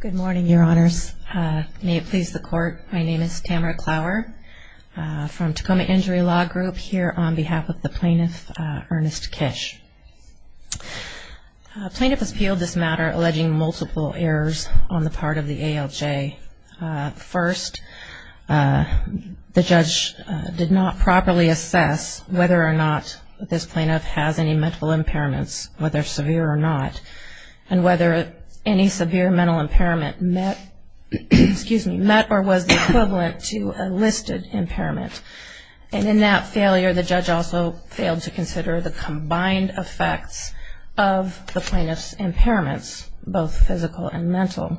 Good morning, Your Honors. May it please the Court, my name is Tamara Clower from Tacoma Injury Law Group, here on behalf of the plaintiff, Ernest Kish. The plaintiff has appealed this matter alleging multiple errors on the part of the ALJ. First, the judge did not properly assess whether or not this plaintiff has any mental impairments, whether severe or not, and whether any severe mental impairment met or was equivalent to a listed impairment. And in that failure, the judge also failed to consider the combined effects of the plaintiff's impairments, both physical and mental.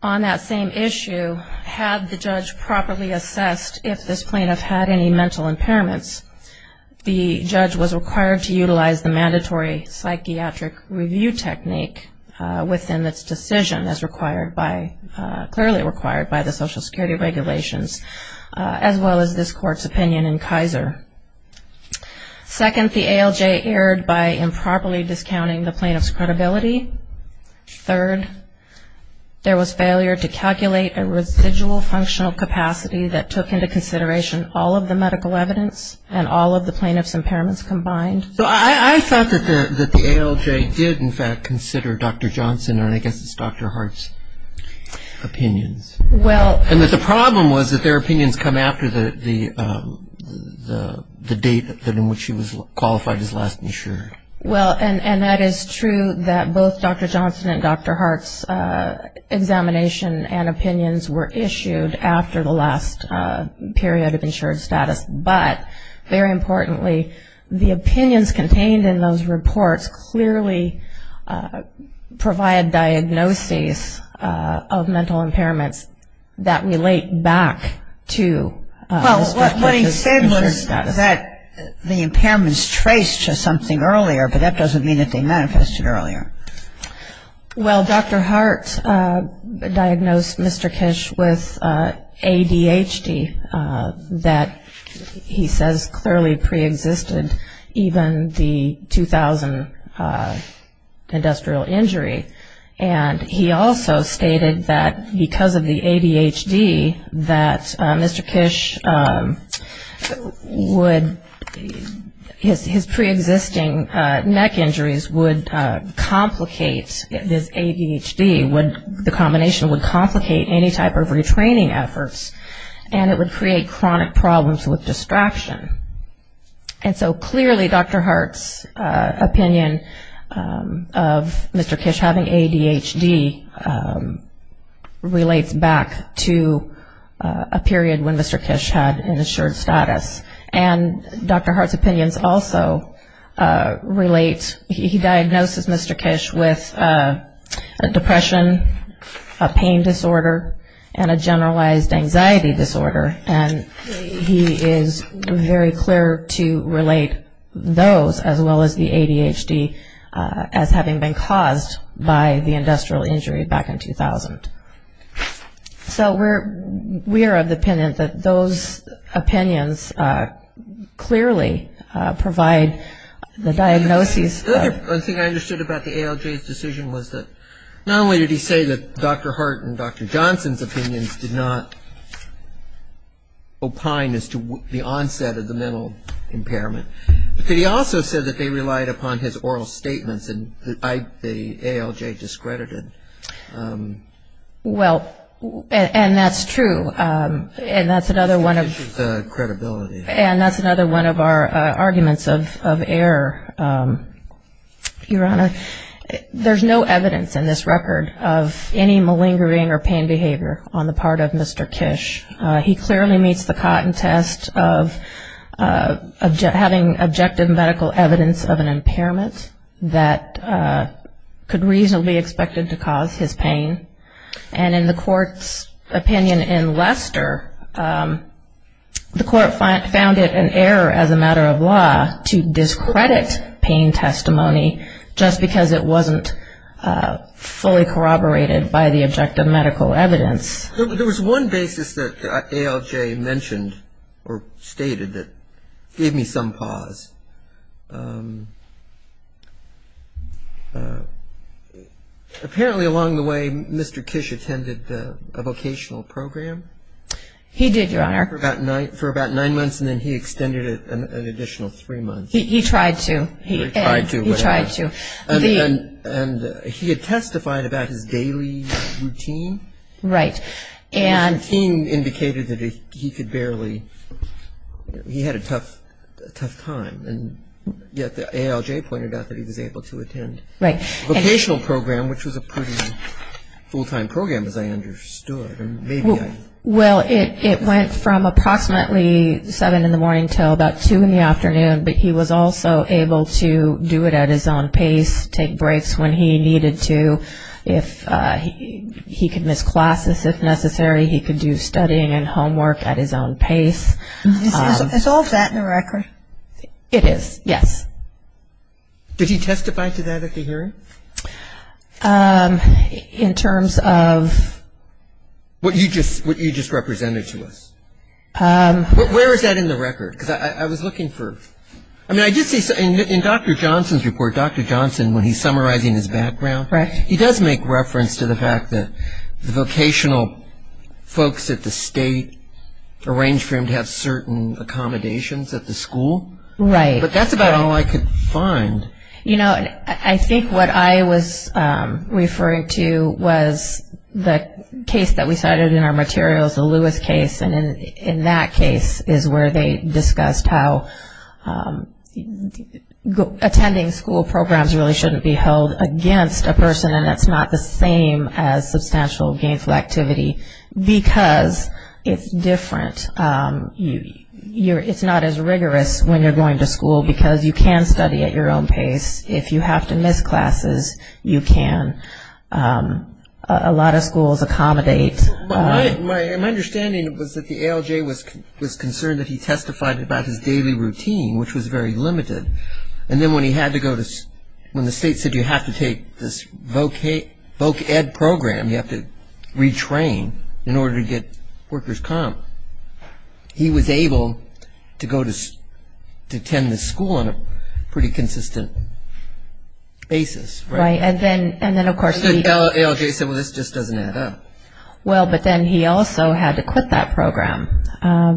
On that same issue, had the judge properly assessed if this plaintiff had any mental impairments, the judge was required to utilize the mandatory psychiatric review technique within its decision as required by, clearly required by the Social Security regulations, as well as this Court's opinion in Kaiser. Second, the ALJ erred by improperly discounting the plaintiff's credibility. Third, there was failure to calculate a residual functional capacity that took into consideration all of the medical evidence and all of the plaintiff's impairments combined. So I thought that the ALJ did, in fact, consider Dr. Johnson or I guess it's Dr. Hart's opinions. Well And that the problem was that their opinions come after the date in which he was qualified as last insured. Well, and that is true that both Dr. Johnson and Dr. Hart's examination and opinions were issued after the last period of insured status. But, very importantly, the opinions contained in those reports clearly provide diagnoses of mental impairments that the impairments traced to something earlier, but that doesn't mean that they manifested earlier. Well, Dr. Hart diagnosed Mr. Kish with ADHD that he says clearly preexisted even the 2000 industrial injury. And he also stated that because of the ADHD that Mr. Kish would, his preexisting neck injuries would complicate this ADHD, would, the combination would complicate any type of retraining efforts and it would create chronic problems with distraction. And so clearly Dr. Hart's opinion of Mr. Kish having ADHD relates back to a period when Mr. Kish had an insured status. And Dr. Hart's opinions also relate, he diagnoses Mr. Kish with a depression, a pain disorder, and a generalized anxiety disorder. And he is very clear to relate those as well as the ADHD as having been caused by the industrial injury back in 2000. So we are of the opinion that those opinions clearly provide the diagnosis. One thing I understood about the ALJ's decision was that not only did he say that Dr. Hart and Dr. Johnson's opinions did not opine as to the onset of the mental impairment, but he also said that they relied upon his oral statements and the ALJ discredited. Well, and that's true, and that's another one of our arguments of error, Your Honor. There's no evidence in this record of any malingering or pain behavior on the part of Mr. Kish. He clearly meets the cotton test of having objective medical evidence of an impairment that could reasonably be expected to cause his pain. And in the court's opinion in Leicester, the court found it an error as a matter of law to discredit pain testimony just because it wasn't fully corroborated by the objective medical evidence. There was one basis that ALJ mentioned or stated that gave me some pause. Apparently along the way, Mr. Kish attended a vocational program. He did, Your Honor. For about nine months, and then he extended it an additional three months. He tried to. He tried to. He tried to. And he had testified about his daily routine. Right. And his routine indicated that he could barely, he had a tough time. And yet the ALJ pointed out that he was able to attend a vocational program, which was a pretty full-time program, as I understood. Well, it went from approximately 7 in the morning until about 2 in the afternoon. But he was also able to do it at his own pace, take breaks when he needed to. He could miss classes if necessary. He could do studying and homework at his own pace. Is all that in the record? It is, yes. Did he testify to that at the hearing? In terms of? What you just represented to us. Where is that in the record? Because I was looking for, I mean, I did see, in Dr. Johnson's report, Dr. Johnson, when he's summarizing his background, he does make reference to the fact that the vocational folks at the state arranged for him to have certain accommodations at the school. Right. But that's about all I could find. You know, I think what I was referring to was the case that we cited in our materials, the Lewis case. And in that case is where they discussed how attending school programs really shouldn't be held against a person, and it's not the same as substantial gainful activity. Because it's different. It's not as rigorous when you're going to school because you can study at your own pace. If you have to miss classes, you can. A lot of schools accommodate. My understanding was that the ALJ was concerned that he testified about his daily routine, which was very limited. And then when he had to go to, when the state said you have to take this voc ed program, you have to retrain in order to get workers comp, he was able to go to attend the school on a pretty consistent basis. Right. And then, of course, the ALJ said, well, this just doesn't add up. Well, but then he also had to quit that program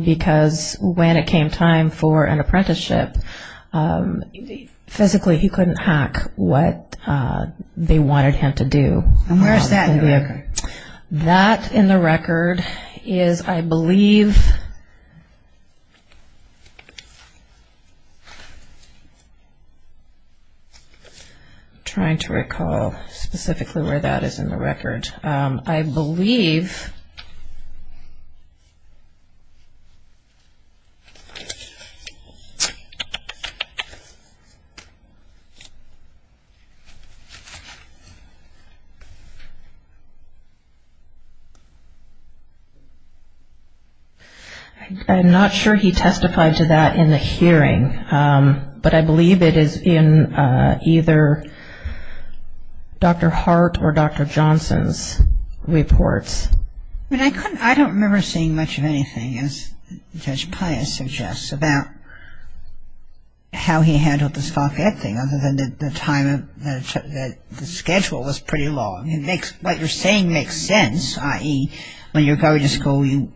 because when it came time for an apprenticeship, physically he couldn't hack what they wanted him to do. And where is that in the record? That in the record is, I believe, I'm trying to recall specifically where that is in the record. I believe. I'm not sure he testified to that in the hearing. But I believe it is in either Dr. Hart or Dr. Johnson's reports. I don't remember seeing much of anything, as Judge Pius suggests, about how he handled this voc ed thing other than the time, the schedule was pretty long. What you're saying makes sense, i.e., when you're going to school, you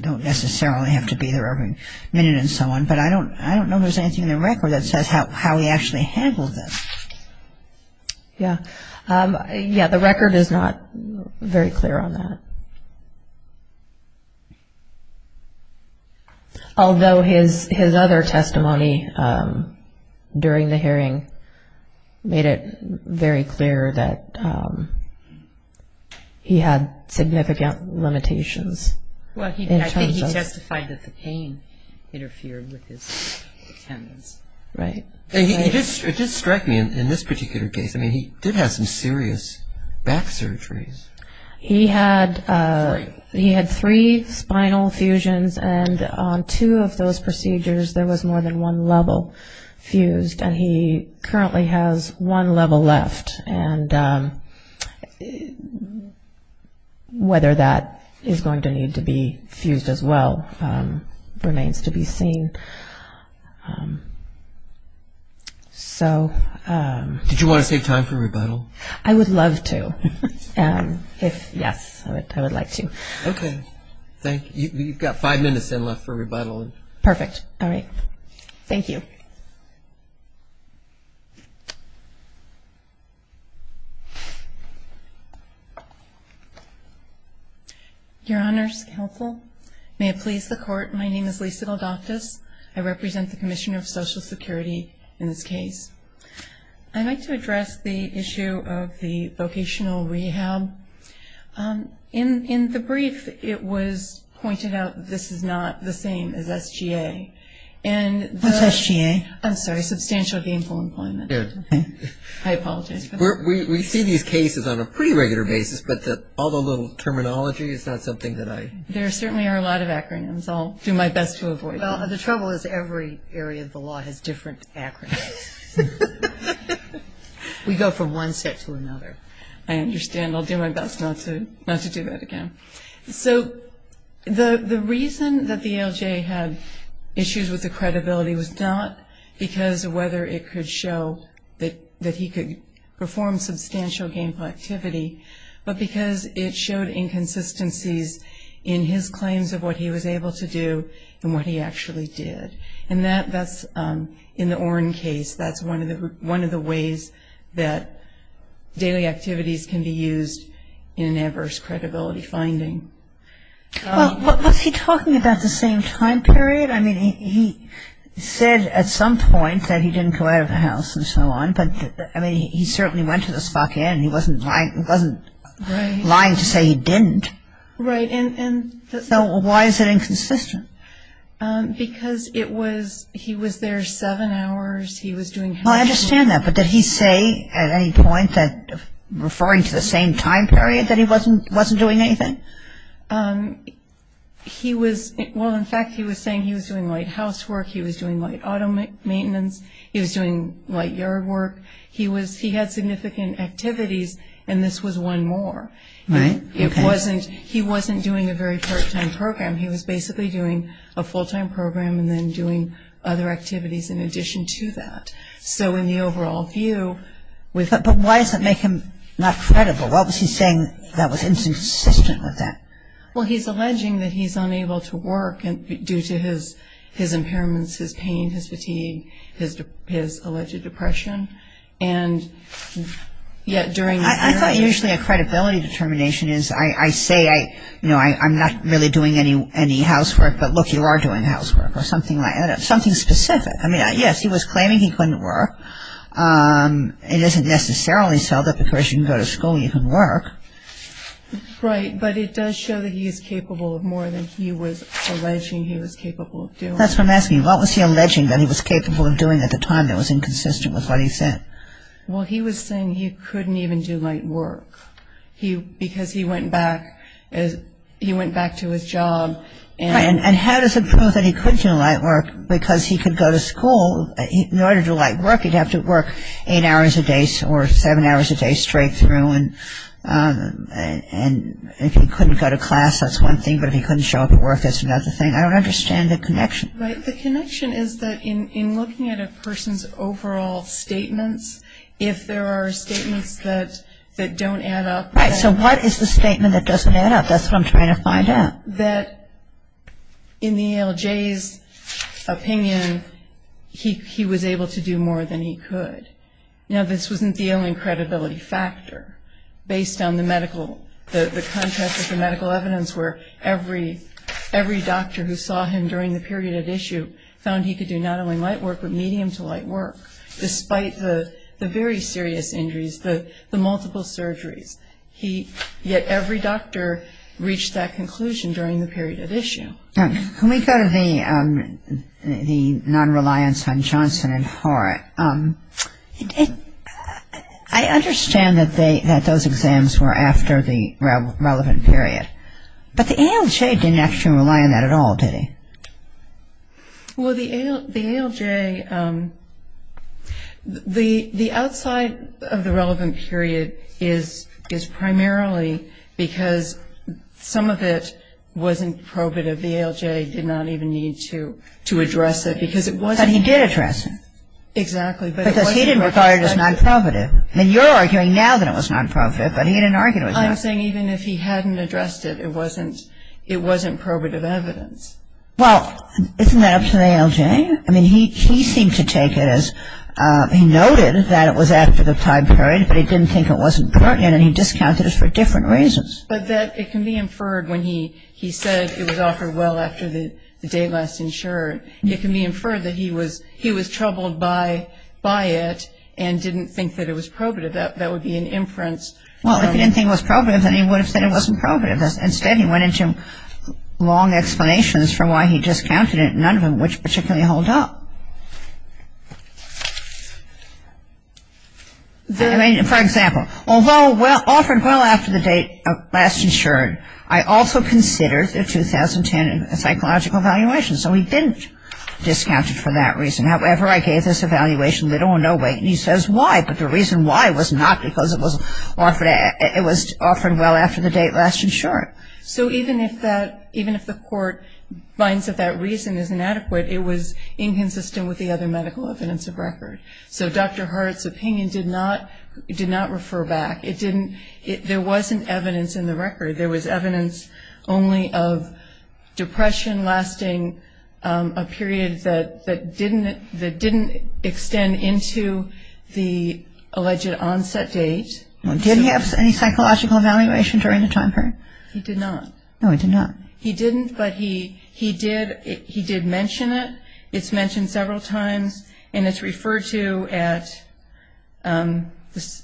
don't necessarily have to be there every minute and so on. But I don't know if there's anything in the record that says how he actually handled this. Yeah. Yeah, the record is not very clear on that. Although his other testimony during the hearing made it very clear that he had significant limitations. Well, I think he testified that the pain interfered with his tendons. Right. It did strike me in this particular case, I mean, he did have some serious back surgeries. He had three spinal fusions, and on two of those procedures there was more than one level fused, and he currently has one level left. And whether that is going to need to be fused as well remains to be seen. Did you want to save time for rebuttal? I would love to. Yes, I would like to. Okay. Thank you. You've got five minutes left for rebuttal. Perfect. All right. Thank you. Your Honors, Counsel, may it please the Court, my name is Lisa Galdoptis. I represent the Commissioner of Social Security in this case. I'd like to address the issue of the vocational rehab. In the brief, it was pointed out this is not the same as SGA. What's SGA? I'm sorry, substantial gainful employment. I apologize for that. We see these cases on a pretty regular basis, but all the little terminology is not something that I... There certainly are a lot of acronyms. I'll do my best to avoid them. Well, the trouble is every area of the law has different acronyms. We go from one set to another. I understand. I'll do my best not to do that again. So the reason that the ALJ had issues with the credibility was not because of whether it could show that he could perform substantial gainful activity, but because it showed inconsistencies in his claims of what he was able to do and what he actually did. And that's in the Oren case. That's one of the ways that daily activities can be used in an adverse credibility finding. Well, was he talking about the same time period? I mean, he said at some point that he didn't go out of the house and so on, but I mean, he certainly went to the Spock Inn. He wasn't lying to say he didn't. Right. So why is it inconsistent? Because it was he was there seven hours. He was doing housework. I understand that, but did he say at any point that referring to the same time period that he wasn't doing anything? He was, well, in fact, he was saying he was doing light housework. He was doing light auto maintenance. He was doing light yard work. He had significant activities, and this was one more. Right. Okay. He wasn't doing a very part-time program. He was basically doing a full-time program and then doing other activities in addition to that. So in the overall view, we thought – But why does it make him not credible? What was he saying that was inconsistent with that? Well, he's alleging that he's unable to work due to his impairments, his pain, his fatigue, his alleged depression, and yet during – I thought usually a credibility determination is I say I'm not really doing any housework, but look, you are doing housework or something like that, something specific. I mean, yes, he was claiming he couldn't work. It isn't necessarily so that because you can go to school you can work. Right, but it does show that he is capable of more than he was alleging he was capable of doing. That's what I'm asking. What was he alleging that he was capable of doing at the time that was inconsistent with what he said? Well, he was saying he couldn't even do light work because he went back to his job. Right, and how does it prove that he couldn't do light work? Because he could go to school. In order to do light work, he'd have to work eight hours a day or seven hours a day straight through, and if he couldn't go to class, that's one thing, but if he couldn't show up at work, that's another thing. I don't understand the connection. Right, the connection is that in looking at a person's overall statements, if there are statements that don't add up. Right, so what is the statement that doesn't add up? That's what I'm trying to find out. That in the ALJ's opinion, he was able to do more than he could. Now, this wasn't the only credibility factor. Based on the medical, the contrast of the medical evidence where every doctor who saw him during the period at issue found he could do not only light work but medium to light work, despite the very serious injuries, the multiple surgeries. Yet every doctor reached that conclusion during the period at issue. Can we go to the non-reliance on Johnson and Horat? I understand that those exams were after the relevant period, but the ALJ didn't actually rely on that at all, did he? Well, the ALJ, the outside of the relevant period is primarily because some of it wasn't probative. The ALJ did not even need to address it because it wasn't. But he did address it. Exactly. Because he didn't regard it as non-probative. I mean, you're arguing now that it was non-probative, but he didn't argue it was not. I'm saying even if he hadn't addressed it, it wasn't probative evidence. Well, isn't that up to the ALJ? I mean, he seemed to take it as he noted that it was after the time period, but he didn't think it wasn't pertinent and he discounted it for different reasons. But that it can be inferred when he said it was offered well after the date last insured. It can be inferred that he was troubled by it and didn't think that it was probative. That would be an inference. Well, if he didn't think it was probative, then he would have said it wasn't probative. Instead, he went into long explanations for why he discounted it, none of which particularly hold up. I mean, for example, although offered well after the date last insured, I also considered the 2010 psychological evaluation. So he didn't discount it for that reason. However, I gave this evaluation little or no weight, and he says why. But the reason why was not because it was offered well after the date last insured. So even if the court finds that that reason is inadequate, it was inconsistent with the other medical evidence. So Dr. Hart's opinion did not refer back. There wasn't evidence in the record. There was evidence only of depression lasting a period that didn't extend into the alleged onset date. Did he have any psychological evaluation during the time period? He did not. No, he did not. He didn't, but he did mention it. It's mentioned several times, and it's referred to at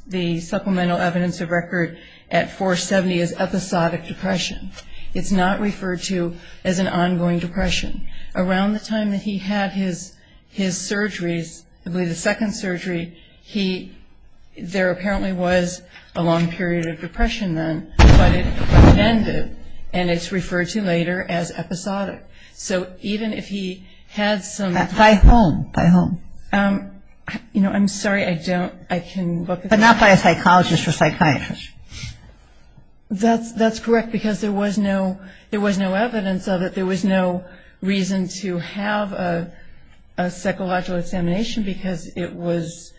the supplemental evidence of record at 470 as episodic depression. It's not referred to as an ongoing depression. Around the time that he had his surgeries, I believe the second surgery, there apparently was a long period of depression then, but it was amended, and it's referred to later as episodic. So even if he had some... By whom? By whom? You know, I'm sorry, I don't, I can look at that. But not by a psychologist or psychiatrist. That's correct, because there was no evidence of it. There was no reason to have a psychological examination because it was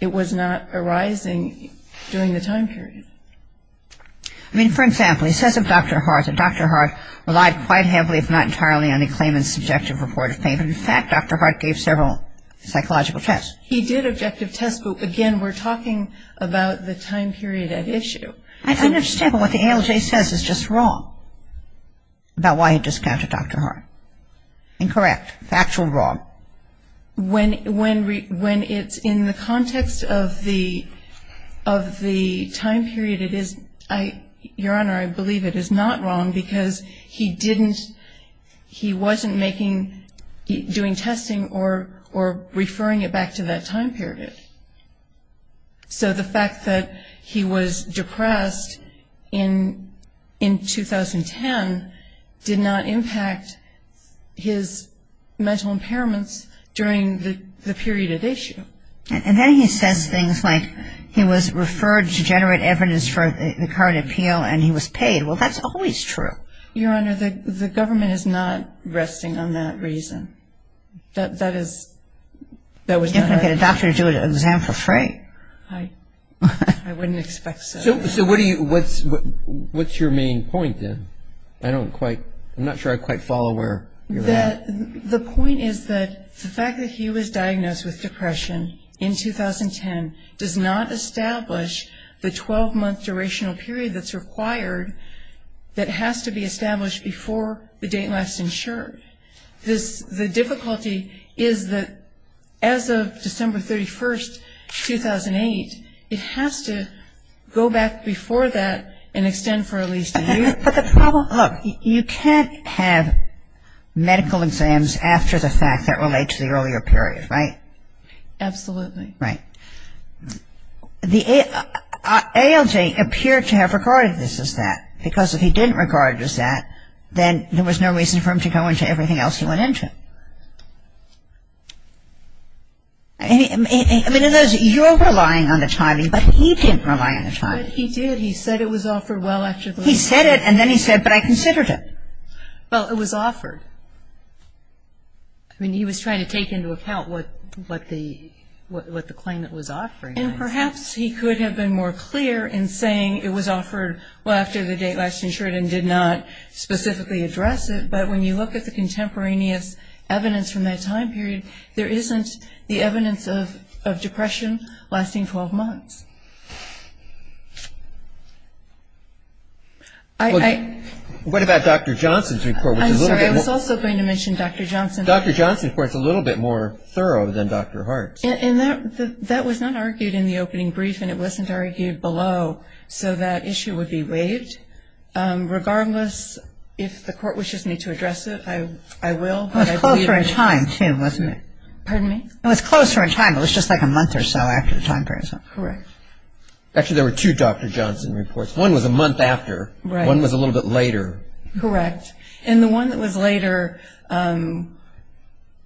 not arising during the time period. I mean, for example, he says of Dr. Hart that Dr. Hart relied quite heavily, if not entirely, on a claimant's subjective report of pain. In fact, Dr. Hart gave several psychological tests. He did objective tests, but again, we're talking about the time period at issue. I understand, but what the ALJ says is just wrong about why he discounted Dr. Hart. Incorrect. Factual wrong. When it's in the context of the time period, it is, Your Honor, I believe it is not wrong because he didn't, he wasn't making, doing testing or referring it back to that time period. So the fact that he was depressed in 2010 did not impact his mental impairments during the period at issue. And then he says things like he was referred to generate evidence for the current appeal and he was paid. Well, that's always true. Your Honor, the government is not resting on that reason. That is, that was not. I wouldn't get a doctor to do an exam for Frank. I wouldn't expect so. So what do you, what's your main point then? I don't quite, I'm not sure I quite follow where you're at. The point is that the fact that he was diagnosed with depression in 2010 does not establish the 12-month durational period that's required that has to be established before the date last insured. The difficulty is that as of December 31, 2008, it has to go back before that and extend for at least a year. But the problem, look, you can't have medical exams after the fact that relate to the earlier period, right? Absolutely. Right. The ALJ appeared to have regarded this as that because if he didn't regard it as that, then there was no reason for him to go into everything else he went into. I mean, you're relying on the timing, but he didn't rely on the timing. He did. He said it was offered well after the date last insured. He said it and then he said, but I considered it. Well, it was offered. I mean, he was trying to take into account what the claimant was offering. And perhaps he could have been more clear in saying it was offered well after the date last insured and did not specifically address it. But when you look at the contemporaneous evidence from that time period, there isn't the evidence of depression lasting 12 months. What about Dr. Johnson's report? I'm sorry, I was also going to mention Dr. Johnson. Dr. Johnson's report is a little bit more thorough than Dr. Hart's. That was not argued in the opening brief and it wasn't argued below, so that issue would be waived. Regardless, if the court wishes me to address it, I will. It was closer in time too, wasn't it? Pardon me? It was closer in time. It was just like a month or so after the time period. Correct. Actually, there were two Dr. Johnson reports. One was a month after. Right. One was a little bit later. Correct. And the one that was later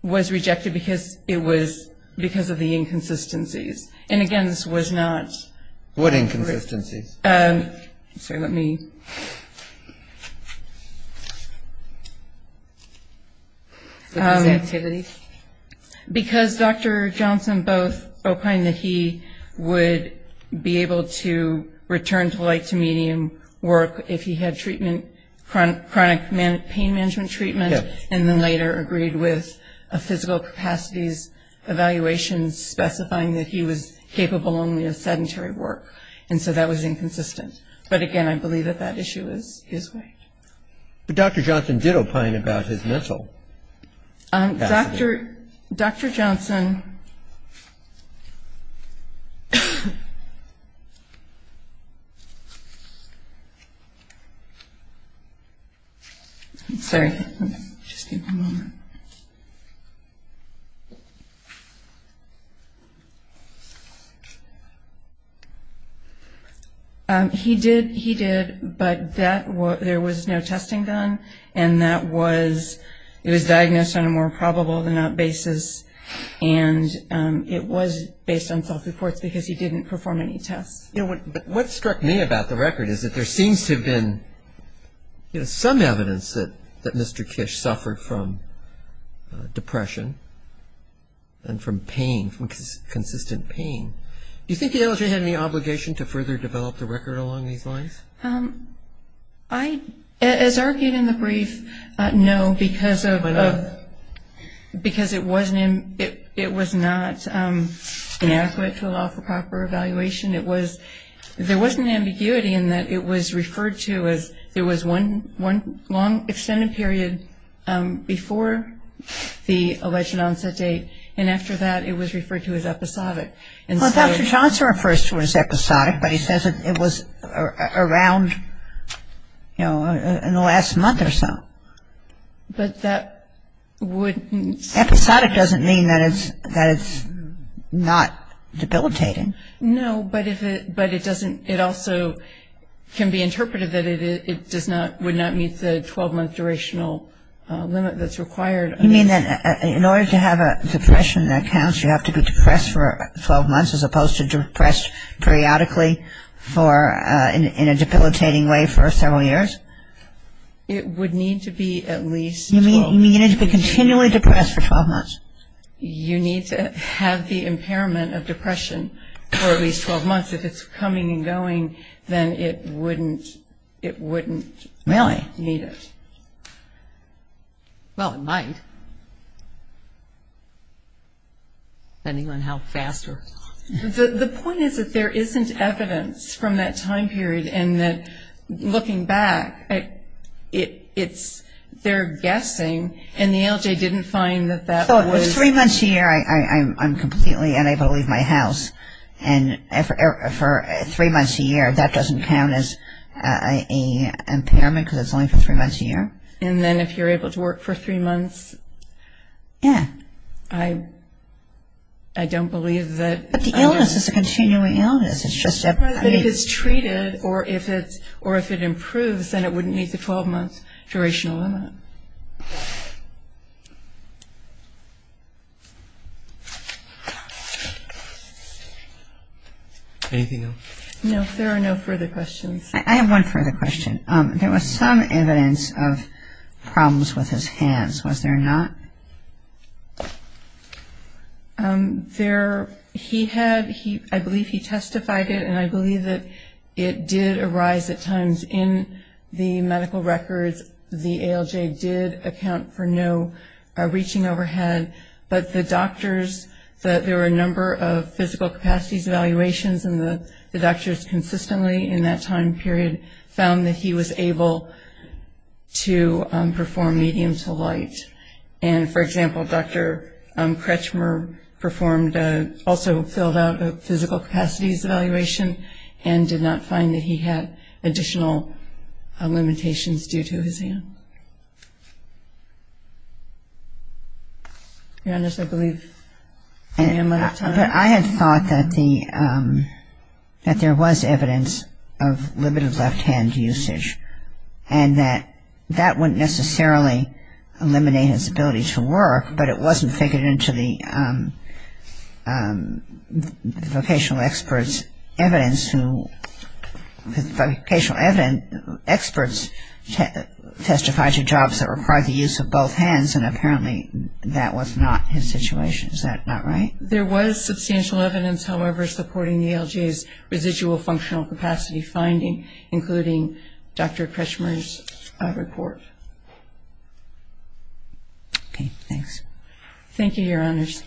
was rejected because it was because of the inconsistencies. And, again, this was not. What inconsistencies? Sorry, let me. Because Dr. Johnson both opined that he would be able to return to light to medium work if he had chronic pain management treatment and then later agreed with a physical capacities evaluation specifying that he was capable only of sedentary work. And so that was inconsistent. But, again, I believe that that issue is waived. But Dr. Johnson did opine about his mental capacity. Dr. Johnson. Sorry. He did, but there was no testing done, and it was diagnosed on a more probable than not basis, and it was based on self-reports because he didn't perform any tests. What struck me about the record is that there seems to have been some evidence that Mr. Kish suffered from depression and from pain, from consistent pain. Do you think the LHA had any obligation to further develop the record along these lines? As argued in the brief, no, because it was not inadequate to the law for proper evaluation. There was an ambiguity in that it was referred to as there was one long extended period before the alleged onset date, and after that it was referred to as episodic. Well, Dr. Johnson refers to it as episodic, but he says it was around, you know, in the last month or so. But that wouldn't... Episodic doesn't mean that it's not debilitating. No, but it also can be interpreted that it would not meet the 12-month durational limit that's required. You mean that in order to have a depression that counts, you have to be depressed for 12 months as opposed to depressed periodically in a debilitating way for several years? It would need to be at least... You mean you need to be continually depressed for 12 months? You need to have the impairment of depression for at least 12 months. If it's coming and going, then it wouldn't meet it. Really? Well, it might, depending on how fast or... The point is that there isn't evidence from that time period, and that looking back, they're guessing, and the LJ didn't find that that was... So if it's three months a year, I'm completely unable to leave my house, and for three months a year, that doesn't count as an impairment, because it's only for three months a year? And then if you're able to work for three months, I don't believe that... But the illness is a continuing illness. It's just that if it's treated or if it improves, then it wouldn't meet the 12-month durational limit. Anything else? No, there are no further questions. I have one further question. There was some evidence of problems with his hands, was there not? There, he had, I believe he testified it, and I believe that it did arise at times in the medical records. The ALJ did account for no reaching overhead, but the doctors, there were a number of physical capacities evaluations, and the doctors consistently in that time period found that he was able to perform medium to light. And, for example, Dr. Kretschmer performed, also filled out a physical capacities evaluation and did not find that he had additional limitations due to his hand. Janice, I believe I am out of time. I had thought that there was evidence of limited left-hand usage and that that wouldn't necessarily eliminate his ability to work, but it wasn't figured into the vocational experts' evidence who, vocational experts testified to jobs that required the use of both hands, and apparently that was not his situation. Is that not right? There was substantial evidence, however, supporting the ALJ's residual functional capacity finding, including Dr. Kretschmer's report. Okay, thanks. Thank you, Your Honors.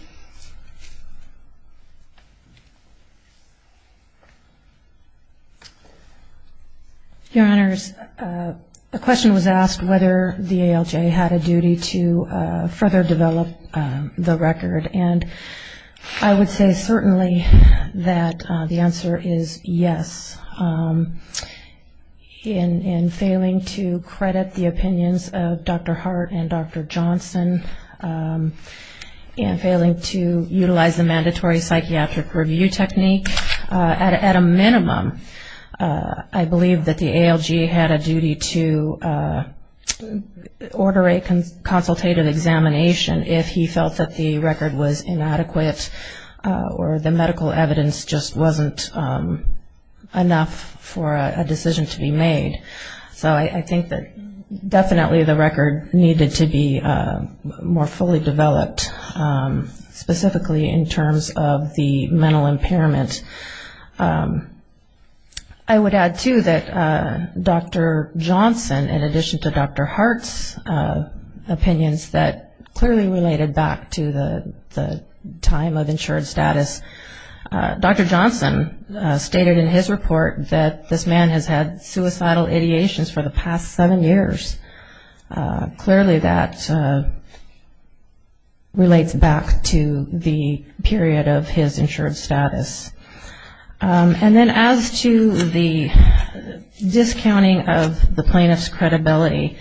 Your Honors, a question was asked whether the ALJ had a duty to further develop the record, and I would say certainly that the answer is yes. In failing to credit the opinions of Dr. Hart and Dr. Johnson and failing to utilize the mandatory psychiatric review technique, at a minimum I believe that the ALJ had a duty to order a consultative examination if he felt that the record was inadequate or the medical evidence just wasn't enough for a decision to be made. So I think that definitely the record needed to be more fully developed, specifically in terms of the mental impairment. I would add, too, that Dr. Johnson, in addition to Dr. Hart's opinions that clearly related back to the time of insured status, Dr. Johnson stated in his report that this man has had suicidal ideations for the past seven years. Clearly that relates back to the period of his insured status. And then as to the discounting of the plaintiff's credibility,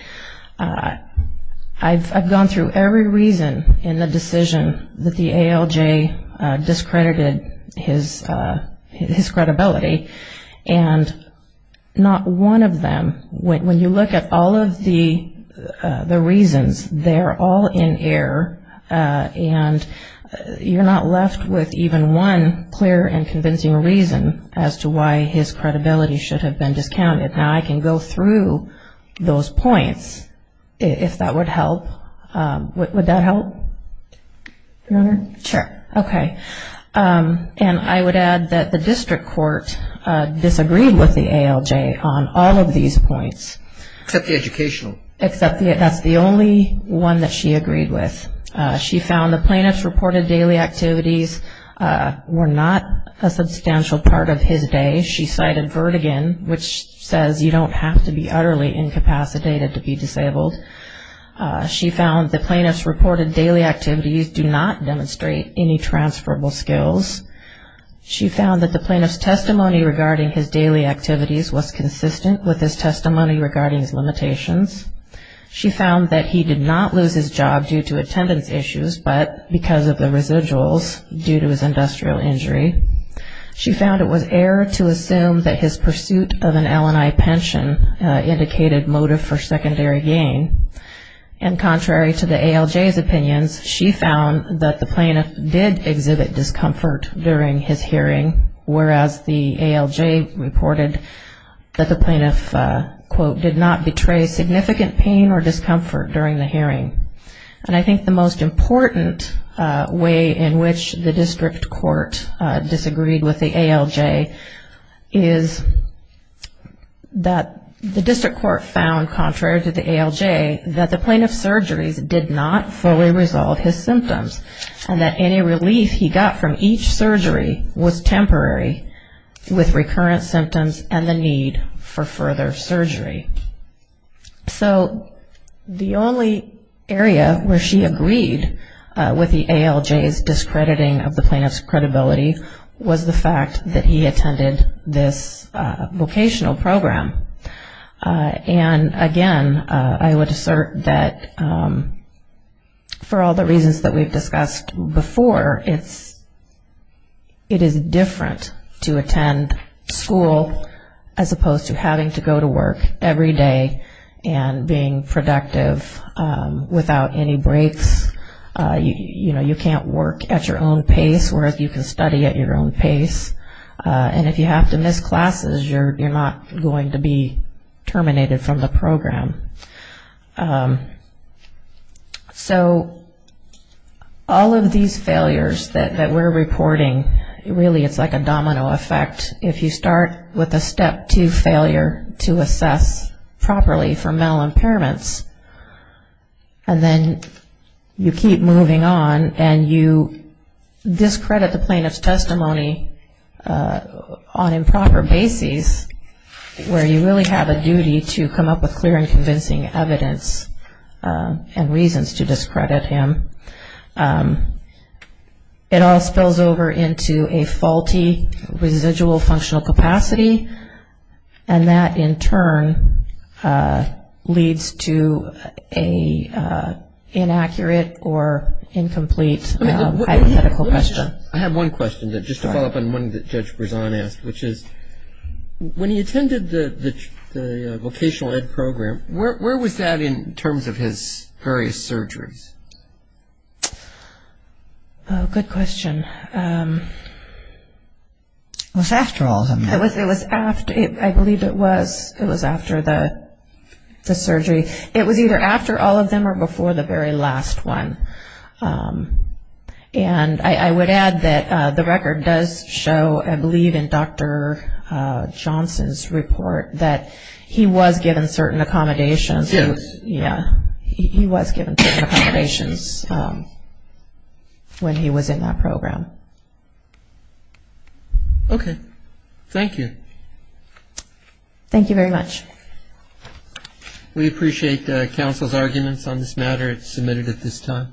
I've gone through every reason in the decision that the ALJ discredited his credibility, and not one of them, when you look at all of the reasons, they're all in error and you're not left with even one clear and convincing reason as to why his credibility should have been discounted. Now I can go through those points if that would help. Would that help, Your Honor? Sure. Okay. And I would add that the district court disagreed with the ALJ on all of these points. Except the educational. Except that's the only one that she agreed with. She found the plaintiff's reported daily activities were not a substantial part of his day. She cited vertigin, which says you don't have to be utterly incapacitated to be disabled. She found the plaintiff's reported daily activities do not demonstrate any transferable skills. She found that the plaintiff's testimony regarding his daily activities was consistent with his testimony regarding his limitations. She found that he did not lose his job due to attendance issues, but because of the residuals due to his industrial injury. She found it was error to assume that his pursuit of an L&I pension indicated motive for secondary gain. And contrary to the ALJ's opinions, she found that the plaintiff did exhibit discomfort during his hearing, whereas the ALJ reported that the plaintiff, quote, did not betray significant pain or discomfort during the hearing. And I think the most important way in which the district court disagreed with the ALJ is that the district court found, contrary to the ALJ, that the plaintiff's surgeries did not fully resolve his symptoms, and that any relief he got from each surgery was temporary with recurrent symptoms and the need for further surgery. So the only area where she agreed with the ALJ's discrediting of the plaintiff's credibility was the fact that he attended this vocational program. And again, I would assert that for all the reasons that we've discussed before, it is different to attend school as opposed to having to go to work every day and being productive without any breaks. You know, you can't work at your own pace, whereas you can study at your own pace. And if you have to miss classes, you're not going to be terminated from the program. So all of these failures that we're reporting, really it's like a domino effect. If you start with a step two failure to assess properly for mental impairments, and then you keep moving on, and you discredit the plaintiff's testimony on improper bases, where you really have a duty to come up with clear and convincing evidence and reasons to discredit him, it all spills over into a faulty residual functional capacity, and that in turn leads to an inaccurate or incomplete hypothetical question. I have one question, just to follow up on one that Judge Berzon asked, which is, when he attended the vocational ed program, where was that in terms of his various surgeries? Oh, good question. It was after all of them. I believe it was after the surgery. It was either after all of them or before the very last one. And I would add that the record does show, I believe in Dr. Johnson's report, that he was given certain accommodations. Yes. He was given certain accommodations when he was in that program. Okay. Thank you. Thank you very much. We appreciate counsel's arguments on this matter. It's submitted at this time.